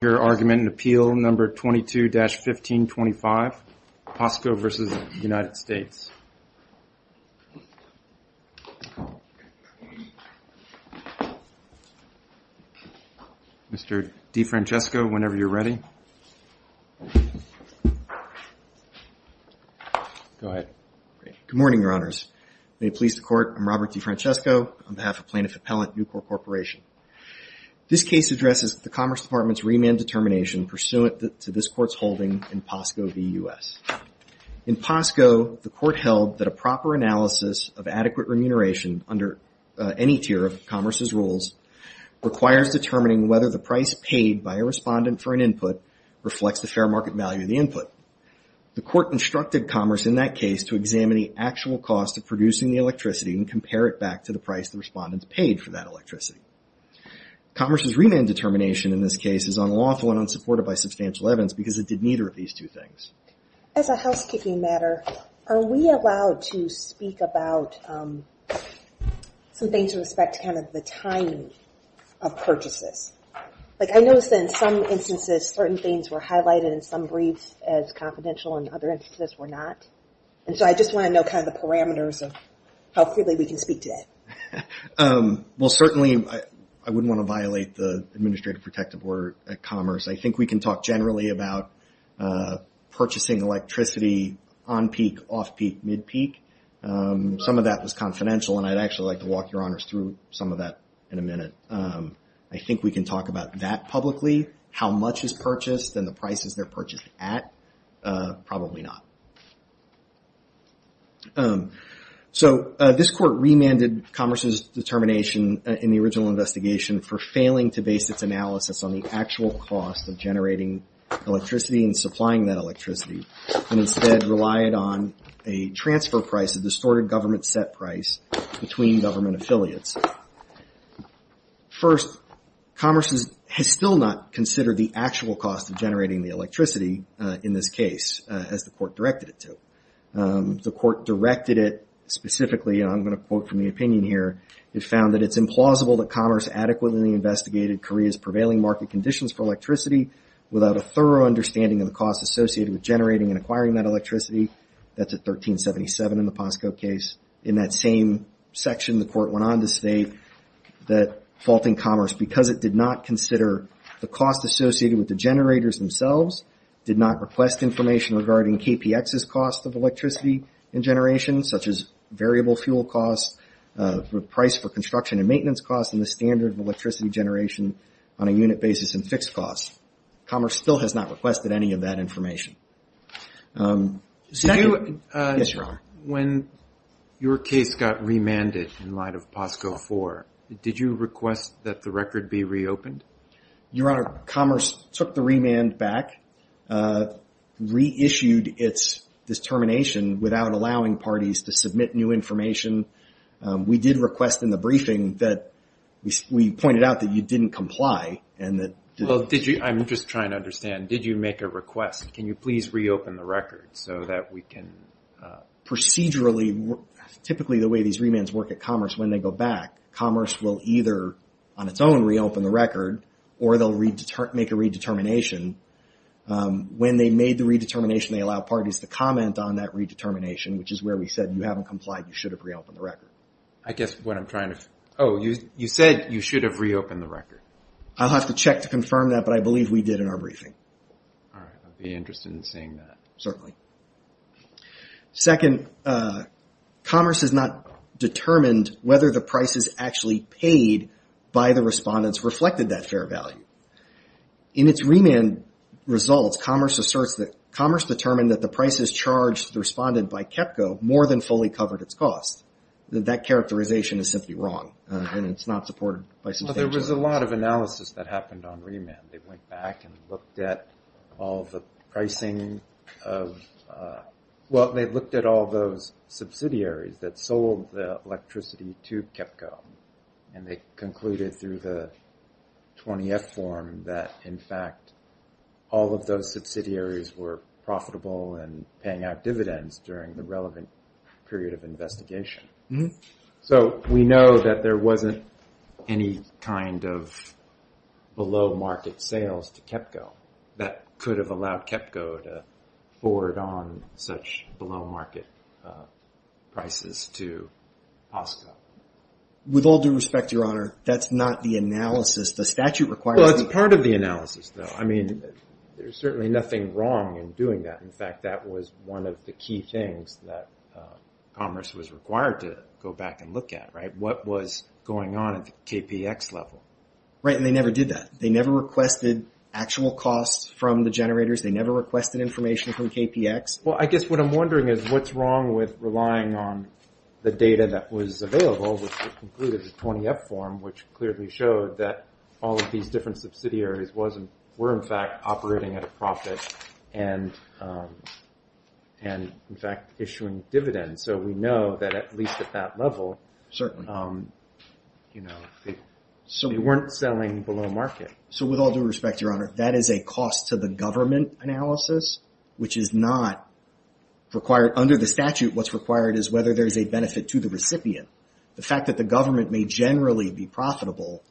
Your argument and appeal number 22-1525, PASCO versus United States. Mr. DeFrancesco, whenever you're ready. Go ahead. Good morning, your honors. May it please the court, I'm Robert DeFrancesco on behalf of plaintiff appellant Newport Corporation. This case addresses the Commerce Department's remand determination pursuant to this court's holding in PASCO v. U.S. In PASCO, the court held that a proper analysis of adequate remuneration under any tier of commerce's rules requires determining whether the price paid by a respondent for an input reflects the fair market value of the input. The court instructed commerce in that case to examine the actual cost of producing the electricity and compare it back to the price the respondents paid for that electricity. Commerce's remand determination in this case is unlawful and unsupported by substantial evidence because it did neither of these two things. As a housekeeping matter, are we allowed to speak about some things with respect to kind of the time of purchases? Like I noticed that in some instances certain things were highlighted in some briefs as confidential and other instances were not. And so I just want to know kind of the parameters of how freely we can speak today. Well certainly I wouldn't want to violate the administrative protective order at Commerce. I think we can talk generally about purchasing electricity on peak, off peak, mid peak. Some of that was confidential and I'd actually like to walk your honors through some of that in a minute. I think we can talk about that publicly. How much is purchased and the prices they're purchased at? Probably not. So this court remanded Commerce's determination in the original investigation for failing to base its analysis on the actual cost of generating electricity and supplying that electricity and instead relied on a transfer price, a distorted government set price between government affiliates. First, Commerce has still not considered the actual cost of generating the electricity in this case as the court directed it to. The court directed it specifically, and I'm going to quote from the opinion here, it found that it's implausible that Commerce adequately investigated Korea's prevailing market conditions for electricity without a thorough understanding of the cost associated with generating and acquiring that electricity. That's at 1377 in the POSCO case. In that same section, the court went on to state that faulting Commerce, because it did not consider the cost associated with the generators themselves, did not request information regarding KPX's cost of electricity and generation, such as variable fuel costs, the price for construction and maintenance costs, and the standard of electricity generation on a unit basis and fixed costs. Commerce still has not requested any of that information. When your case got remanded in light of POSCO 4, did you request that the record be reopened? Your Honor, Commerce took the remand back, reissued its determination without allowing parties to submit new information. We did request in the briefing that we pointed out that you didn't comply and that... Well, I'm just trying to understand. Did you make a request? Can you please reopen the record so that we can... Procedurally, typically the way these remands work at Commerce, when they go back, Commerce will either on its own reopen the record or they'll make a redetermination. When they made the redetermination, they allow parties to comment on that redetermination, which is where we said you haven't complied, you should have reopened the record. I guess what I'm trying to... Oh, you said you should have reopened the record. I'll have to check to confirm that, but I believe we did in our briefing. All right. I'd be interested in seeing that. Certainly. Second, Commerce has not determined whether the prices actually paid by the respondents reflected that fair value. In its remand results, Commerce asserts that Commerce determined that the prices charged to the respondent by KEPCO more than fully covered its cost. That characterization is simply wrong and it's not supported by substantial... There was a lot of analysis that happened on remand. They went back and looked at all the pricing of... Well, they looked at all those subsidiaries that sold the electricity to KEPCO and they concluded through the 20th form that, in fact, all of those subsidiaries were profitable and paying out dividends during the relevant period of investigation. So we know that there wasn't any kind of below market sales to KEPCO that could have allowed KEPCO to forward on such below market prices to POSCO. With all due respect, Your Honor, that's not the analysis. The statute requires... Well, it's part of the analysis though. I mean, there's certainly nothing wrong in doing that. In fact, that was one of the key things that Commerce was required to go back and look at, right? What was going on at the KPX level? Right. And they never did that. They never requested actual costs from the generators. They never requested information from KPX. Well, I guess what I'm wondering is what's wrong with relying on the data that was available, which concluded the 20th form, which clearly showed that all of these different subsidiaries were, in fact, operating at a profit and, in fact, issuing dividends. So we know that at least at that level, they weren't selling below market. So with all due respect, Your Honor, that is a cost to the government analysis, which is not required under the statute. What's required is whether there's a benefit to the recipient. The fact that the government may generally be profitable,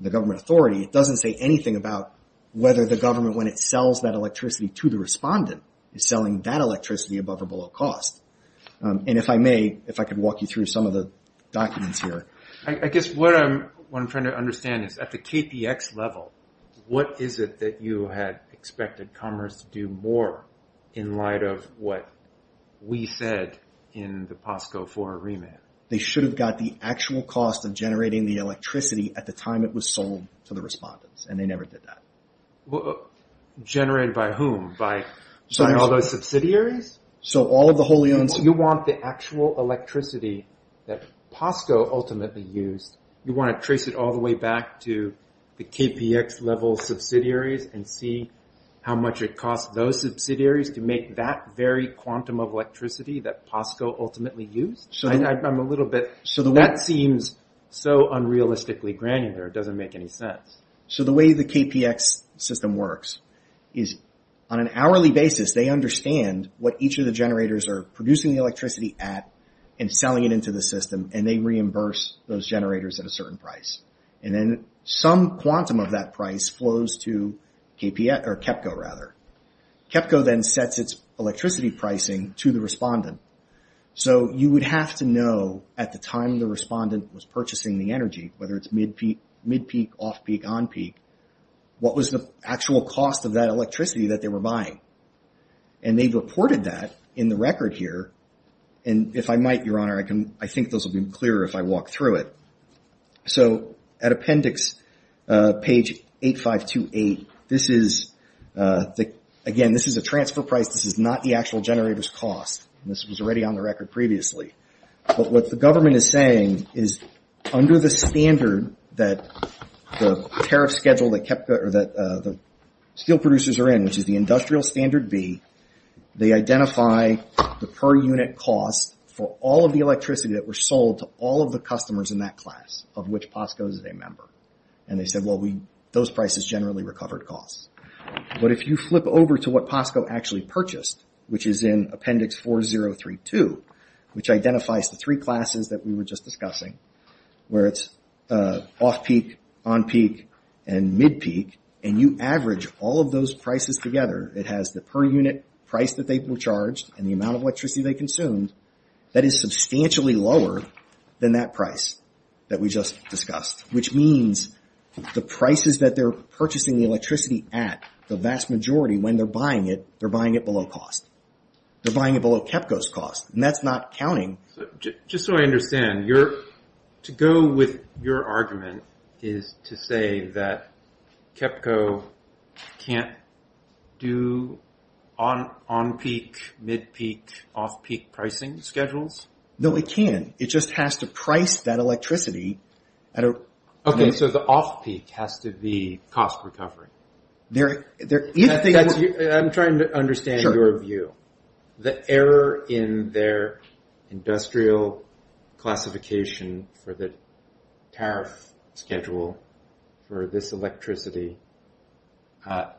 the government authority, it doesn't say anything about whether the government, when it sells that electricity to the respondent, is selling that electricity above or below cost. And if I may, if I could walk you through some of the documents here. I guess what I'm trying to understand is at the KPX level, what is it that you had expected Commerce to do more in light of what we said in the POSCO IV remit? They should have got the actual cost of generating the electricity at the time it was sold to the generated by whom? By all those subsidiaries? So all of the wholly owned... You want the actual electricity that POSCO ultimately used, you want to trace it all the way back to the KPX level subsidiaries and see how much it cost those subsidiaries to make that very quantum of electricity that POSCO ultimately used? I'm a little bit... That seems so unrealistically granular, it doesn't make any sense. So the way the KPX system works is on an hourly basis, they understand what each of the generators are producing the electricity at and selling it into the system and they reimburse those generators at a certain price. And then some quantum of that price flows to KPX or KEPCO rather. KEPCO then sets its electricity pricing to the respondent. So you would have to know at the time the respondent was purchasing the energy, whether it's mid-peak, off-peak, on-peak, what was the actual cost of that electricity that they were buying? And they've reported that in the record here. And if I might, Your Honor, I think those will be clearer if I walk through it. So at appendix page 8528, this is... Again, this is a transfer price, this is not the actual generator's cost. This was already on the record previously. But what the government is saying is under the standard that the tariff schedule that steel producers are in, which is the industrial standard B, they identify the per unit cost for all of the electricity that were sold to all of the customers in that class, of which POSCO is a member. And they said, well, those prices generally recovered costs. But if you flip over to what POSCO actually purchased, which is in appendix 4032, which identifies the three classes that we were just discussing, where it's off-peak, on-peak, and mid-peak, and you average all of those prices together, it has the per unit price that they were charged and the amount of electricity they consumed that is substantially lower than that price that we just discussed. Which means the prices that they're purchasing the electricity at, the vast majority when they're buying it, they're buying it below cost. They're buying it below KEPCO's cost, and that's not counting. Just so I understand, to go with your argument is to say that KEPCO can't do on-peak, mid-peak, off-peak pricing schedules? No, it can. It just has to price that electricity at a... Okay, so the off-peak has to be cost recovery. I'm trying to understand your view. The error in their industrial classification for the tariff schedule for this electricity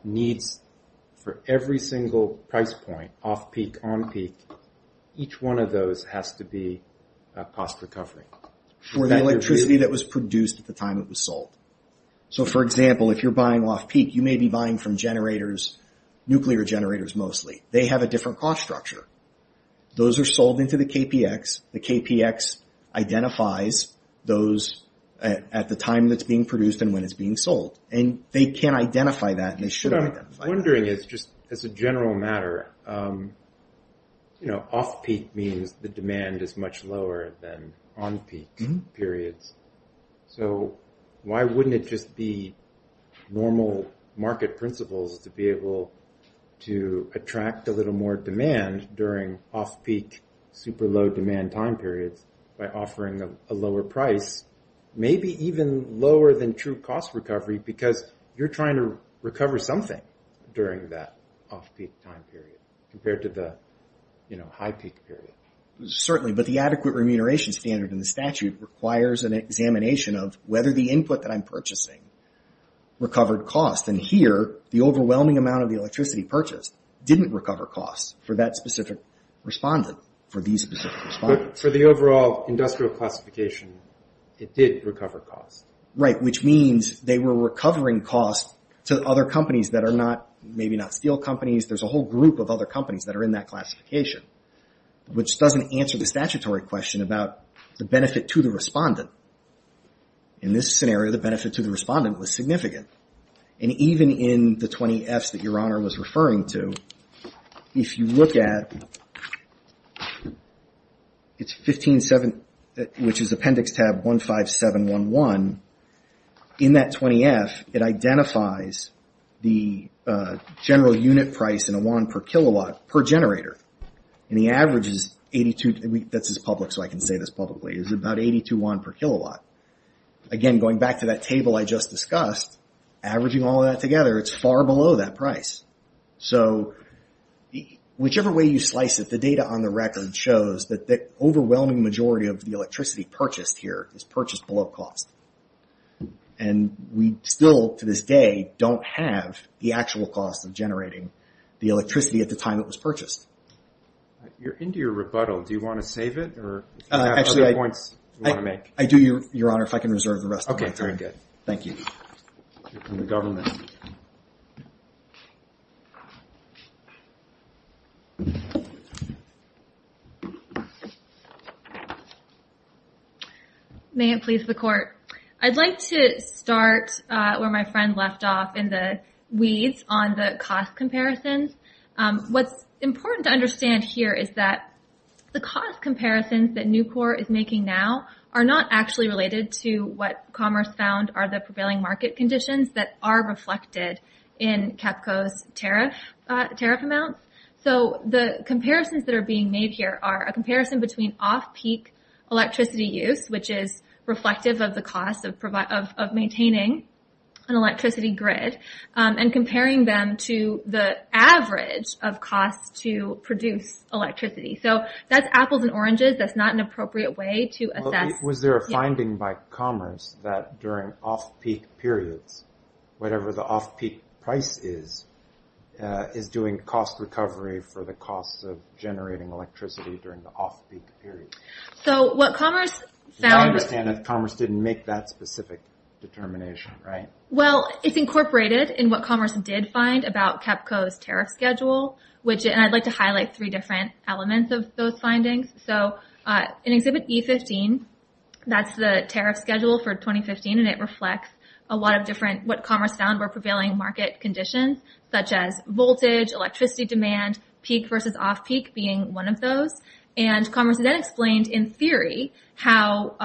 needs for every single price point, off-peak, on-peak, each one of those has to be cost recovery. For the electricity that was produced at the time it was sold. For example, if you're buying off-peak, you may be buying from nuclear generators mostly. They have a different cost structure. Those are sold into the KPX. The KPX identifies those at the time that's being produced and when it's being sold. They can identify that and they should identify that. What I'm wondering is, just as a general matter, off-peak means the demand is much lower than on-peak periods. Why wouldn't it just be normal market principles to be able to attract a little more demand during off-peak, super low demand time periods by offering a lower price, maybe even lower than true cost recovery because you're trying to recover something during that off-peak time period? Compared to the high-peak period. Certainly, but the adequate remuneration standard in the statute requires an examination of whether the input that I'm purchasing recovered cost. Here, the overwhelming amount of the electricity purchased didn't recover cost for that specific respondent, for these specific respondents. For the overall industrial classification, it did recover cost. Right, which means they were recovering cost to other companies that are not, there's a whole group of other companies that are in that classification, which doesn't answer the statutory question about the benefit to the respondent. In this scenario, the benefit to the respondent was significant. Even in the 20Fs that Your Honor was referring to, if you look at 157, which is appendix tab 15711, in that 20F, it identifies the general unit price in a wand per kilowatt per generator. The average is 82, that's public so I can say this publicly, is about 82 wand per kilowatt. Again, going back to that table I just discussed, averaging all of that together, it's far below that price. Whichever way you slice it, the data on the record shows that the overwhelming majority of the electricity purchased here is purchased below cost. We still, to this day, don't have the actual cost of generating the electricity at the time it was purchased. You're into your rebuttal. Do you want to save it or do you have other points you want to make? I do, Your Honor, if I can reserve the rest of my time. Okay, very good. Thank you. May it please the Court. I'd like to start where my friend left off in the weeds on the cost comparisons. What's important to understand here is that the cost comparisons that Newport is making now are not actually related to what Commerce found are the prevailing market conditions that are reflected in CAPCO's tariff amounts. So the comparisons that are being made here are a comparison between off-peak electricity use, which is reflective of the cost of maintaining an electricity grid, and comparing them to the average of costs to produce electricity. So that's apples and oranges. That's not an appropriate way to assess... Was there a finding by Commerce that during off-peak periods, whatever the off-peak price is, is doing cost recovery for the cost of generating electricity during the off-peak period? So what Commerce found... I understand that Commerce didn't make that specific determination, right? Well, it's incorporated in what Commerce did find about CAPCO's tariff schedule, and I'd like to highlight three different elements of those findings. So in Exhibit E15, that's the tariff schedule for 2015, and it reflects a lot of what Commerce found were prevailing market conditions, such as voltage, electricity demand, peak versus off-peak being one of those. And Commerce then explained in theory how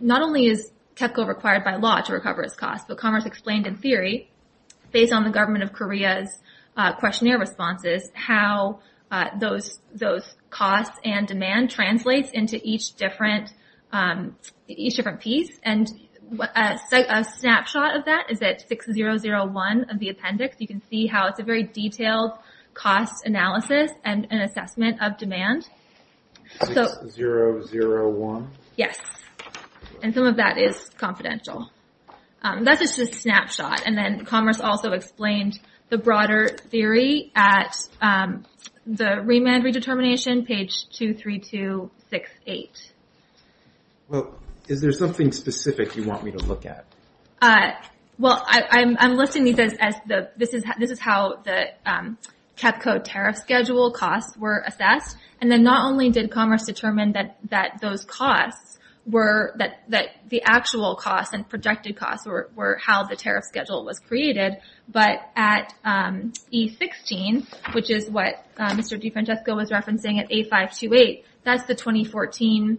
not only is CAPCO required by law to recover its costs, but Commerce explained in theory, based on the government of Korea's responses, how those costs and demand translates into each different piece. And a snapshot of that is at 6001 of the appendix. You can see how it's a very detailed cost analysis and assessment of demand. 6001? Yes. And some of that is confidential. That's just a snapshot. And then Commerce also explained the broader theory at the Remand Redetermination, page 23268. Well, is there something specific you want me to look at? Well, I'm listing these as... this is how the CAPCO tariff schedule costs were assessed. And then not only did Commerce determine that those costs were... that the actual costs and projected costs were how the tariff schedule was created, but at E16, which is what Mr. DiFrancesco was referencing at A528, that's the 2014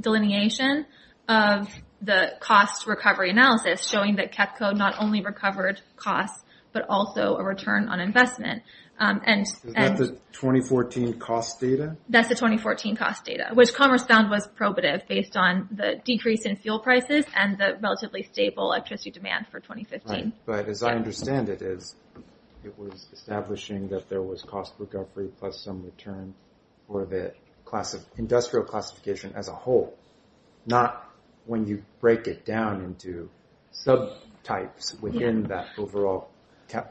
delineation of the cost recovery analysis showing that CAPCO not only recovered costs, but also a return on investment. Is that the 2014 cost data? That's the 2014 cost data, which Commerce found was probative based on the decrease in fuel prices and the relatively stable electricity demand for 2015. Right. But as I understand it, it was establishing that there was cost recovery plus some return for the industrial classification as a whole, not when you break it down into subtypes within that overall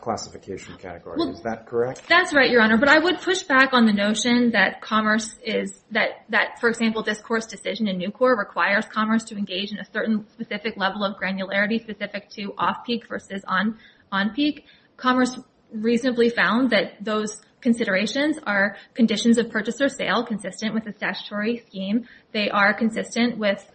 classification category. Is that correct? That's right, Your Honor. But I would push back on the notion that Commerce is... that, for example, this Court's decision in New Court requires Commerce to engage in a certain specific level of granularity specific to off-peak versus on-peak. Commerce reasonably found that those considerations are conditions of purchase or sale consistent with the statutory scheme. They are consistent with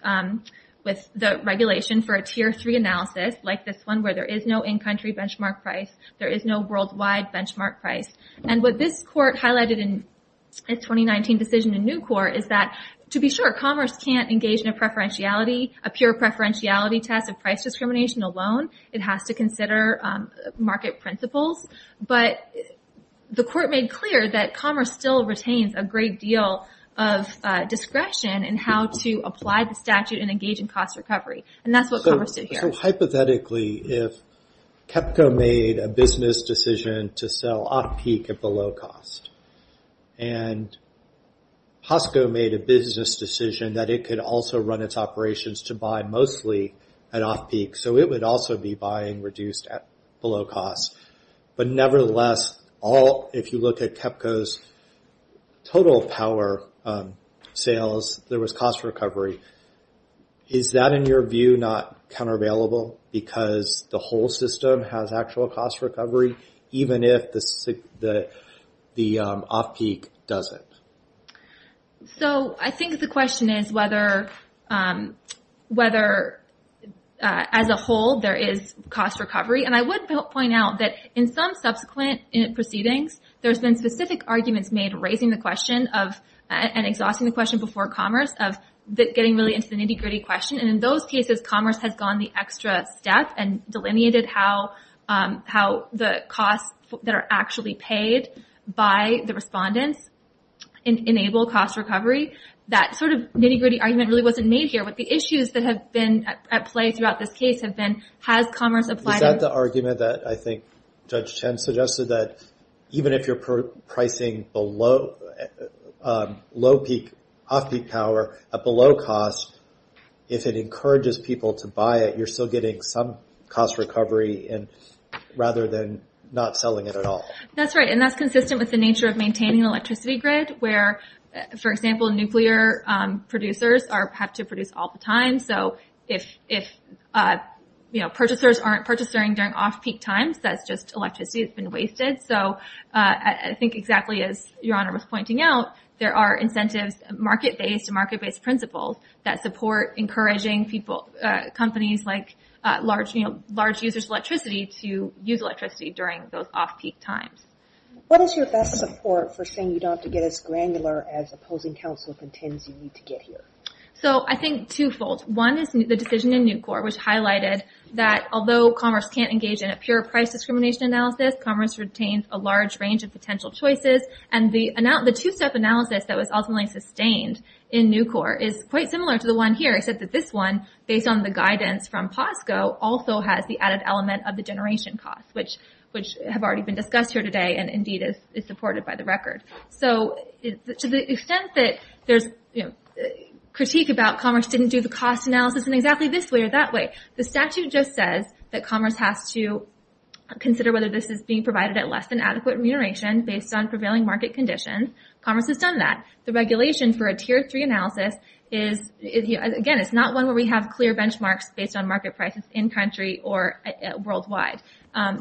the regulation for a Tier 3 analysis, like this one, where there is no in-country benchmark price. There is no worldwide benchmark price. And what this Court highlighted in its 2019 decision in New Court is that, to be sure, Commerce can't engage in a preferentiality, a pure preferentiality test of price discrimination alone. It has to consider market principles. But the Court made clear that Commerce still retains a great deal of discretion in how to apply the statute and engage in cost recovery. And that's what Commerce did here. So hypothetically, if CAPCO made a business decision to sell off-peak at below cost, and POSCO made a business decision that it could also run its operations to buy mostly at off-peak, so it would also be buying reduced at below cost. But nevertheless, if you look at CAPCO's total power sales, there was cost recovery. Is that, in your view, not countervailable because the whole system has actual cost recovery, even if the off-peak doesn't? So I think the question is whether, as a whole, there is cost recovery. And I would point out that in some subsequent proceedings, there's been specific arguments made raising the question of, and exhausting the question before Commerce, of getting really into the nitty-gritty question. And in those cases, Commerce has gone the extra step and delineated how the costs that are actually paid by the respondents enable cost recovery. That sort of nitty-gritty argument really wasn't made here, but the issues that have been at play throughout this case have been, has Commerce applied... Is that the argument that I think Judge Chen suggested, that even if you're pricing low-peak, off-peak power at below cost, if it encourages people to buy it, you're still getting some cost recovery rather than not selling it at all? That's right. And that's consistent with the nature of maintaining an electricity grid, where, for example, nuclear producers have to produce all the time. So if purchasers aren't purchasing during off-peak times, that's just electricity that's been wasted. So I think exactly as Your Honor was pointing out, there are incentives, market-based and market-based principles, that support encouraging companies like large users of electricity to use electricity during those off-peak times. What is your best support for saying you don't have to get as granular as opposing counsel contends you need to get here? So I think twofold. One is the decision in Nucor, which highlighted that although Commerce can't engage in a pure price discrimination analysis, Commerce retains a large range of potential choices. And the two-step analysis that was ultimately sustained in Nucor is quite similar to the one here, except that this one, based on the guidance from POSCO, also has the added element of the generation cost, which have already been discussed here today and indeed is supported by the record. So to the extent that there's critique about Commerce didn't do the cost analysis in exactly this way or that way, the statute just says that Commerce has to consider whether this is being provided at less than adequate remuneration based on prevailing market conditions. Commerce has done that. The regulation for a tier three analysis is again, it's not one where we have clear benchmarks based on market prices in-country or worldwide.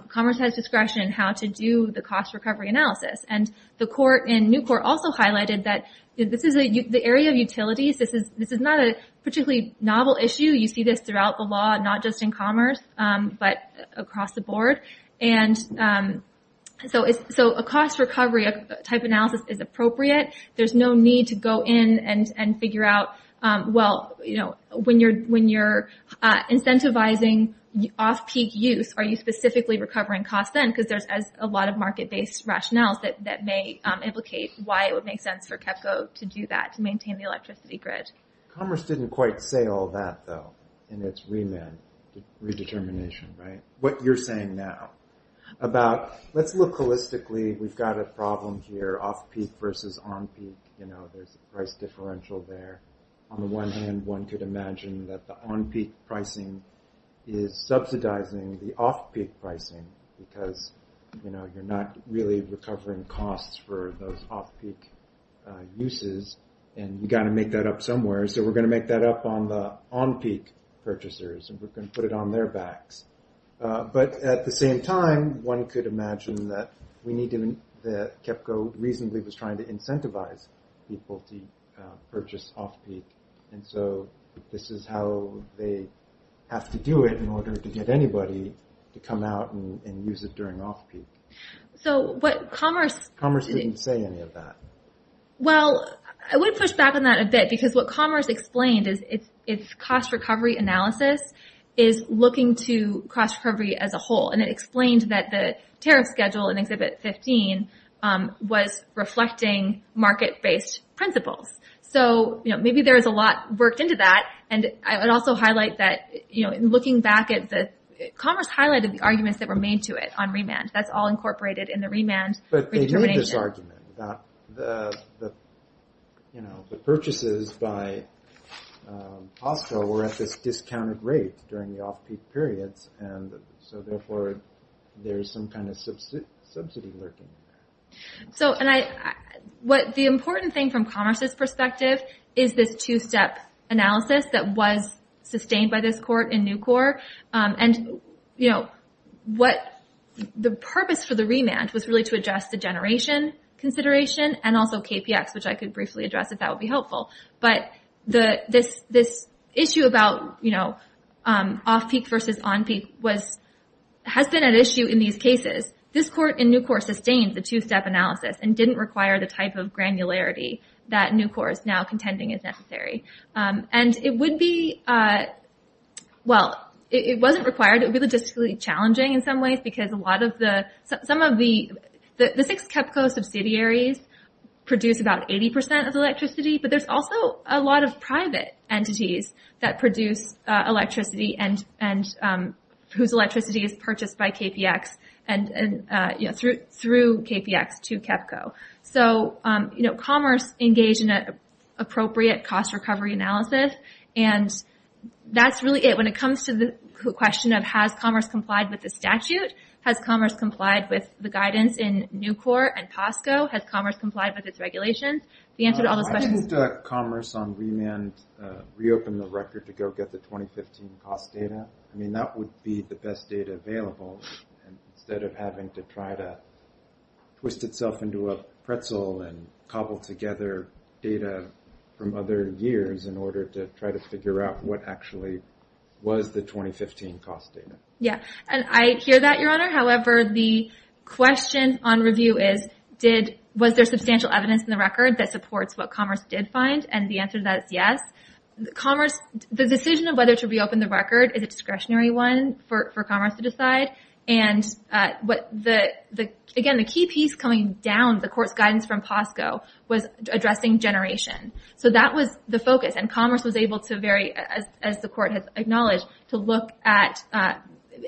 Commerce has discretion in how to do the cost recovery analysis. And the court in Nucor also highlighted that this is the area of utilities. This is not a particularly novel issue. You see this throughout the law, not just in Commerce, but across the board. And so a cost recovery type analysis is appropriate. There's no need to go in and figure out, well, when you're incentivizing off-peak use, are you specifically recovering costs then? Because there's a lot of market-based rationales that may implicate why it would make sense for KEPCO to do that, to maintain the electricity grid. Commerce didn't quite say all that, though, in its redetermination. What you're saying now about, let's look holistically. We've got a problem here, off-peak versus on-peak. There's a price differential there. On the one hand, one could imagine that the on-peak pricing is subsidizing the off-peak pricing because you're not really recovering costs for those off-peak uses, and you've got to make that up somewhere. So we're going to make that up on the on-peak purchasers, and we're going to put it on their backs. But at the same time, one could imagine that KEPCO reasonably was trying to incentivize people to purchase off-peak. And so this is how they have to do it in order to get anybody to come out and use it during off-peak. Commerce didn't say any of that. Well, I would push back on that a bit, because what Commerce explained is cost recovery analysis is looking to cost recovery as a whole. And it explained that the tariff schedule in Exhibit 15 was reflecting market-based principles. So maybe there's a lot worked into that, and I would also highlight that looking back, Commerce highlighted the arguments that were made to it on remand. That's all incorporated in the remand determination. But they did this argument that the purchases by Costco were at this discounted rate during the off-peak periods, and so therefore there's some kind of subsidy lurking in that. So the important thing from Commerce's perspective is this two-step analysis that was sustained by this court in Nucor. And the purpose for the remand was really to address the generation consideration and also KPX, which I think has been at issue in these cases. This court in Nucor sustained the two-step analysis and didn't require the type of granularity that Nucor is now contending is necessary. And it would be, well, it wasn't required. It would be logistically challenging in some ways, because a lot of the, some of the, the six KEPCO subsidiaries produce about 80% of electricity, but there's also a lot of private entities that produce electricity and, and whose electricity is purchased by KPX and, and, you know, through KPX to KEPCO. So, you know, Commerce engaged in an appropriate cost recovery analysis, and that's really it when it comes to the question of has Commerce complied with the statute? Has Commerce complied with the guidance in Nucor and Costco? Has Commerce complied with its regulations? The answer to all those questions... Reopen the record to go get the 2015 cost data. I mean, that would be the best data available, instead of having to try to twist itself into a pretzel and cobble together data from other years in order to try to figure out what actually was the 2015 cost data. Yeah, and I hear that, Your Honor. However, the question on review is, did, was there substantial evidence in the record that supports what Commerce did find? And the answer to that is yes. Commerce, the decision of whether to reopen the record is a discretionary one for Commerce to decide, and what the, the, again, the key piece coming down the Court's guidance from Costco was addressing generation. So that was the focus, and Commerce was able to very, as the Court has acknowledged, to look at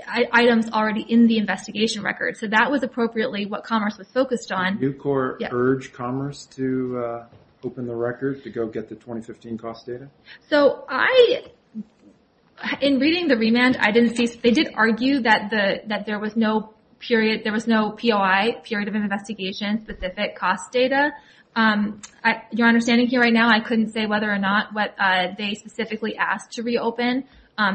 items already in the investigation record. So that was appropriately what Commerce was focused on. Did the new Court urge Commerce to open the record to go get the 2015 cost data? So I, in reading the remand, I didn't see, they did argue that the, that there was no period, there was no POI, period of investigation, specific cost data. Your Honor, standing here right now, I couldn't say whether or not what they specifically asked to reopen.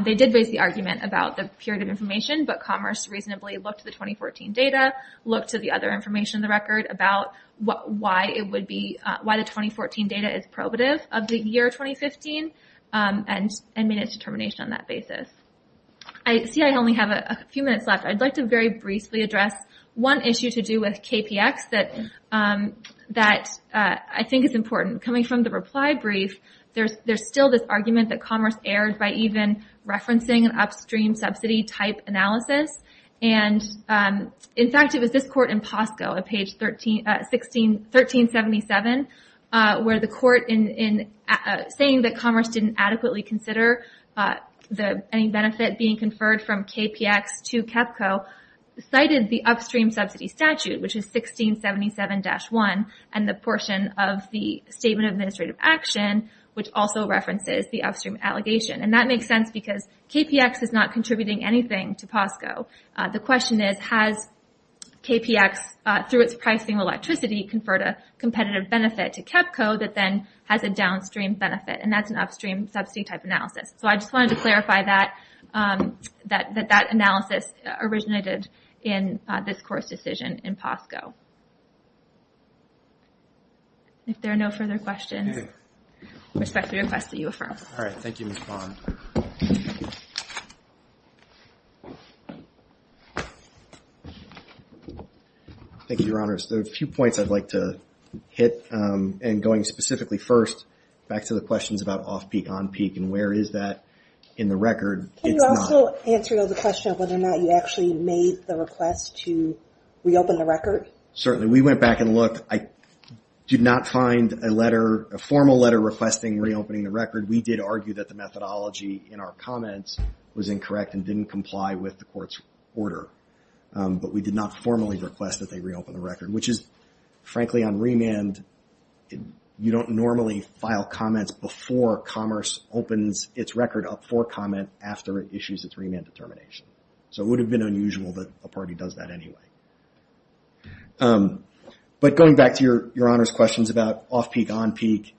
They did raise the argument about the period of information, but Commerce reasonably looked at the 2014 data, looked to the other information in the record about why it would be, why the 2014 data is probative of the year 2015, and made a determination on that basis. I see I only have a few minutes left. I'd like to very briefly address one issue to do with KPX that, that I think is important. Coming from the reply brief, there's, there's still this argument that Commerce erred by even this Court in POSCO at page 13, 16, 1377, where the Court in, in saying that Commerce didn't adequately consider the, any benefit being conferred from KPX to KEPCO cited the upstream subsidy statute, which is 1677-1, and the portion of the Statement of Administrative Action, which also references the upstream allegation. And that makes sense because KPX is not KPX through its pricing electricity conferred a competitive benefit to KEPCO that then has a downstream benefit, and that's an upstream subsidy type analysis. So I just wanted to clarify that, that, that that analysis originated in this Court's decision in POSCO. If there are no further questions, I respectfully request that you affirm. Thank you, Your Honors. There are a few points I'd like to hit. And going specifically first, back to the questions about off-peak, on-peak, and where is that in the record? Can you also answer the question of whether or not you actually made the request to reopen the record? Certainly. We went back and looked. I did not find a letter, a formal letter requesting reopening the record. We did argue that the methodology in our comments was incorrect and didn't comply with the Court's order. But we did not formally request that they reopen the record, which is, frankly, on remand, you don't normally file comments before Commerce opens its record up for comment after it issues its remand determination. So it would have been unusual that a party does that anyway. But going back to Your Honors' questions about off-peak, on-peak,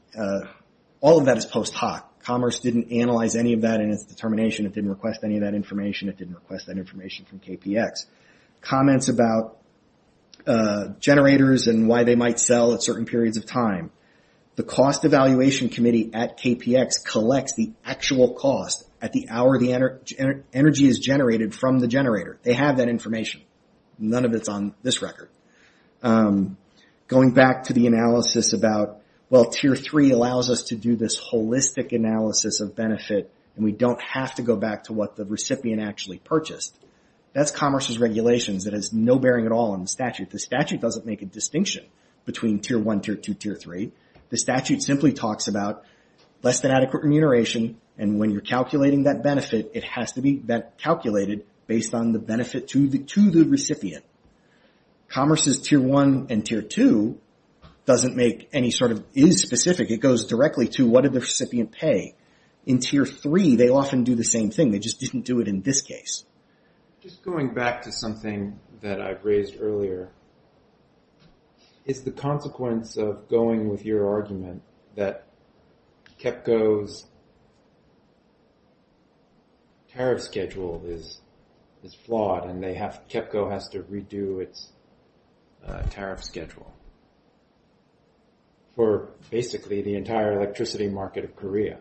all of that is post hoc. Commerce didn't analyze any of that in its determination. It didn't request any of that information. It didn't request that information from KPX. Comments about generators and why they might sell at certain periods of time. The Cost Evaluation Committee at KPX collects the actual cost at the hour the energy is generated from the generator. They have that information. None of it's on this record. Going back to the analysis about, well, Tier 3 allows us to do this holistic analysis of benefit, and we don't have to go back to what the recipient actually purchased. That's Commerce's regulations. It has no bearing at all on the statute. The statute doesn't make a distinction between Tier 1, Tier 2, Tier 3. The statute simply talks about less than adequate remuneration, and when you're calculating that benefit, it has to be calculated based on the benefit to the recipient. Commerce's Tier 1 and Tier 2 doesn't make any sort of, is specific. It goes directly to what did the recipient pay. In Tier 3, they often do the same thing. They just didn't do it in this case. Just going back to something that I raised earlier, is the consequence of going with your argument that KEPCO's tariff schedule is flawed and KEPCO has to redo its tariff schedule for basically the entire electricity market of Korea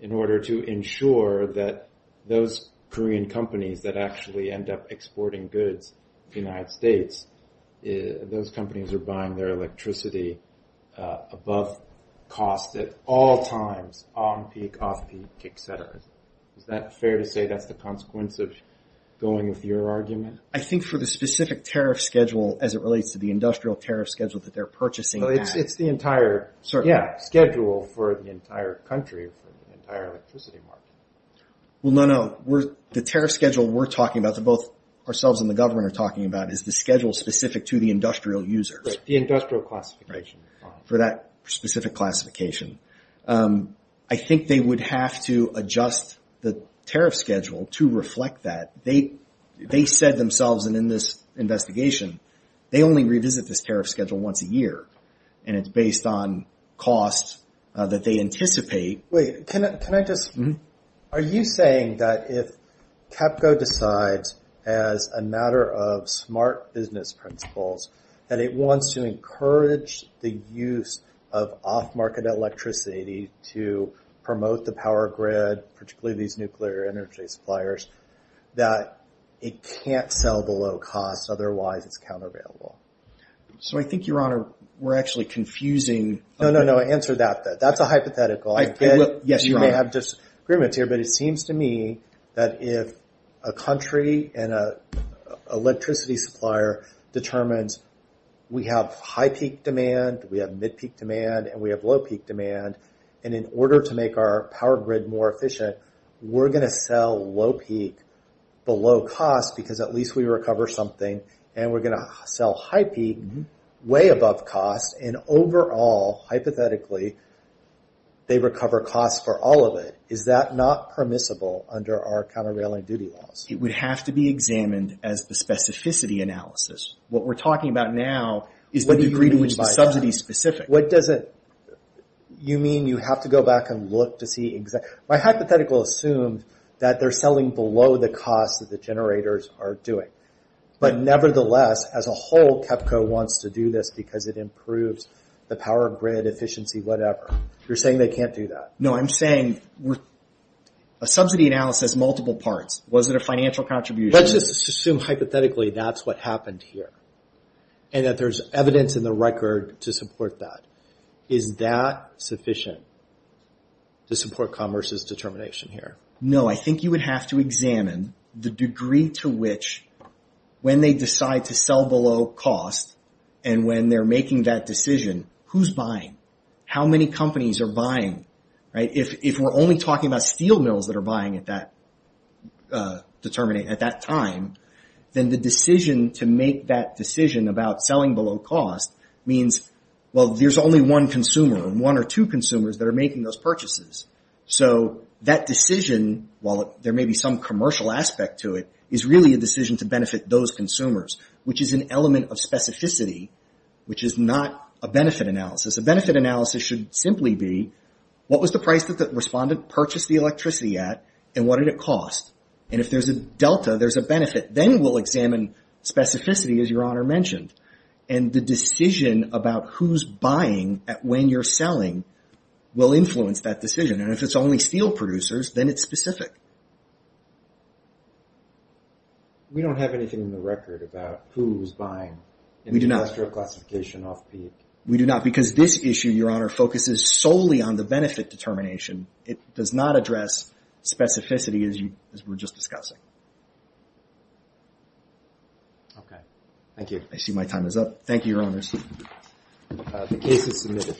in order to ensure that those Korean companies that actually end up exporting goods to the United States, those companies are buying their electricity above cost at all times, on peak, off peak, et cetera. Is that fair to say that's the consequence of going with your argument? I think for the specific tariff schedule as it is, it's the entire schedule for the entire country, for the entire electricity market. Well, no. The tariff schedule we're talking about, both ourselves and the government are talking about, is the schedule specific to the industrial users. The industrial classification. For that specific classification. I think they would have to adjust the tariff schedule to once a year. It's based on costs that they anticipate. Are you saying that if KEPCO decides, as a matter of smart business principles, that it wants to encourage the use of off-market electricity to promote the power grid, particularly these nuclear energy suppliers, that it can't sell below cost, otherwise it's unavailable? I think, Your Honor, we're actually confusing. No, no, no. Answer that. That's a hypothetical. You may have disagreements here, but it seems to me that if a country and an electricity supplier determines we have high-peak demand, we have mid-peak demand, and we have low-peak demand, and in order to make our power grid more efficient, we're going to sell low-peak below cost because at least we recover something, and we're going to sell high-peak way above cost, and overall, hypothetically, they recover costs for all of it. Is that not permissible under our countervailing duty laws? It would have to be examined as the specificity analysis. What we're talking about now is the degree to which the subsidy is specific. You mean you have to go back and look to see exact... My hypothetical assumes that they're selling below the cost that the generators are doing, but nevertheless, as a whole, KEPCO wants to do this because it improves the power grid efficiency, whatever. You're saying they can't do that? No, I'm saying a subsidy analysis, multiple parts. Was it a financial contribution? Let's just assume, hypothetically, that's what happened here, and that there's evidence in the record to support that. Is that sufficient to support Commerce's determination here? No. I think you would have to examine the degree to which, when they decide to sell below cost, and when they're making that decision, who's buying? How many companies are buying? If we're only talking about steel mills that are buying at that time, then the decision to make that decision about selling below cost means there's only one consumer, and one or two consumers that are making those purchases. That decision, while there may be some commercial aspect to it, is really a decision to benefit those consumers, which is an element of specificity, which is not a benefit analysis. A benefit analysis should simply be, what was the price that the respondent purchased the electricity at, and what did it cost? If there's a delta, there's a benefit. Then we'll examine specificity, as Your Honor mentioned, and the decision about who's buying at when you're that decision. If it's only steel producers, then it's specific. We don't have anything in the record about who's buying industrial classification off-peak. We do not, because this issue, Your Honor, focuses solely on the benefit determination. It does not address specificity, as we're just discussing. Okay. Thank you. I see my time is up. Thank you, Your Honors. The case is submitted.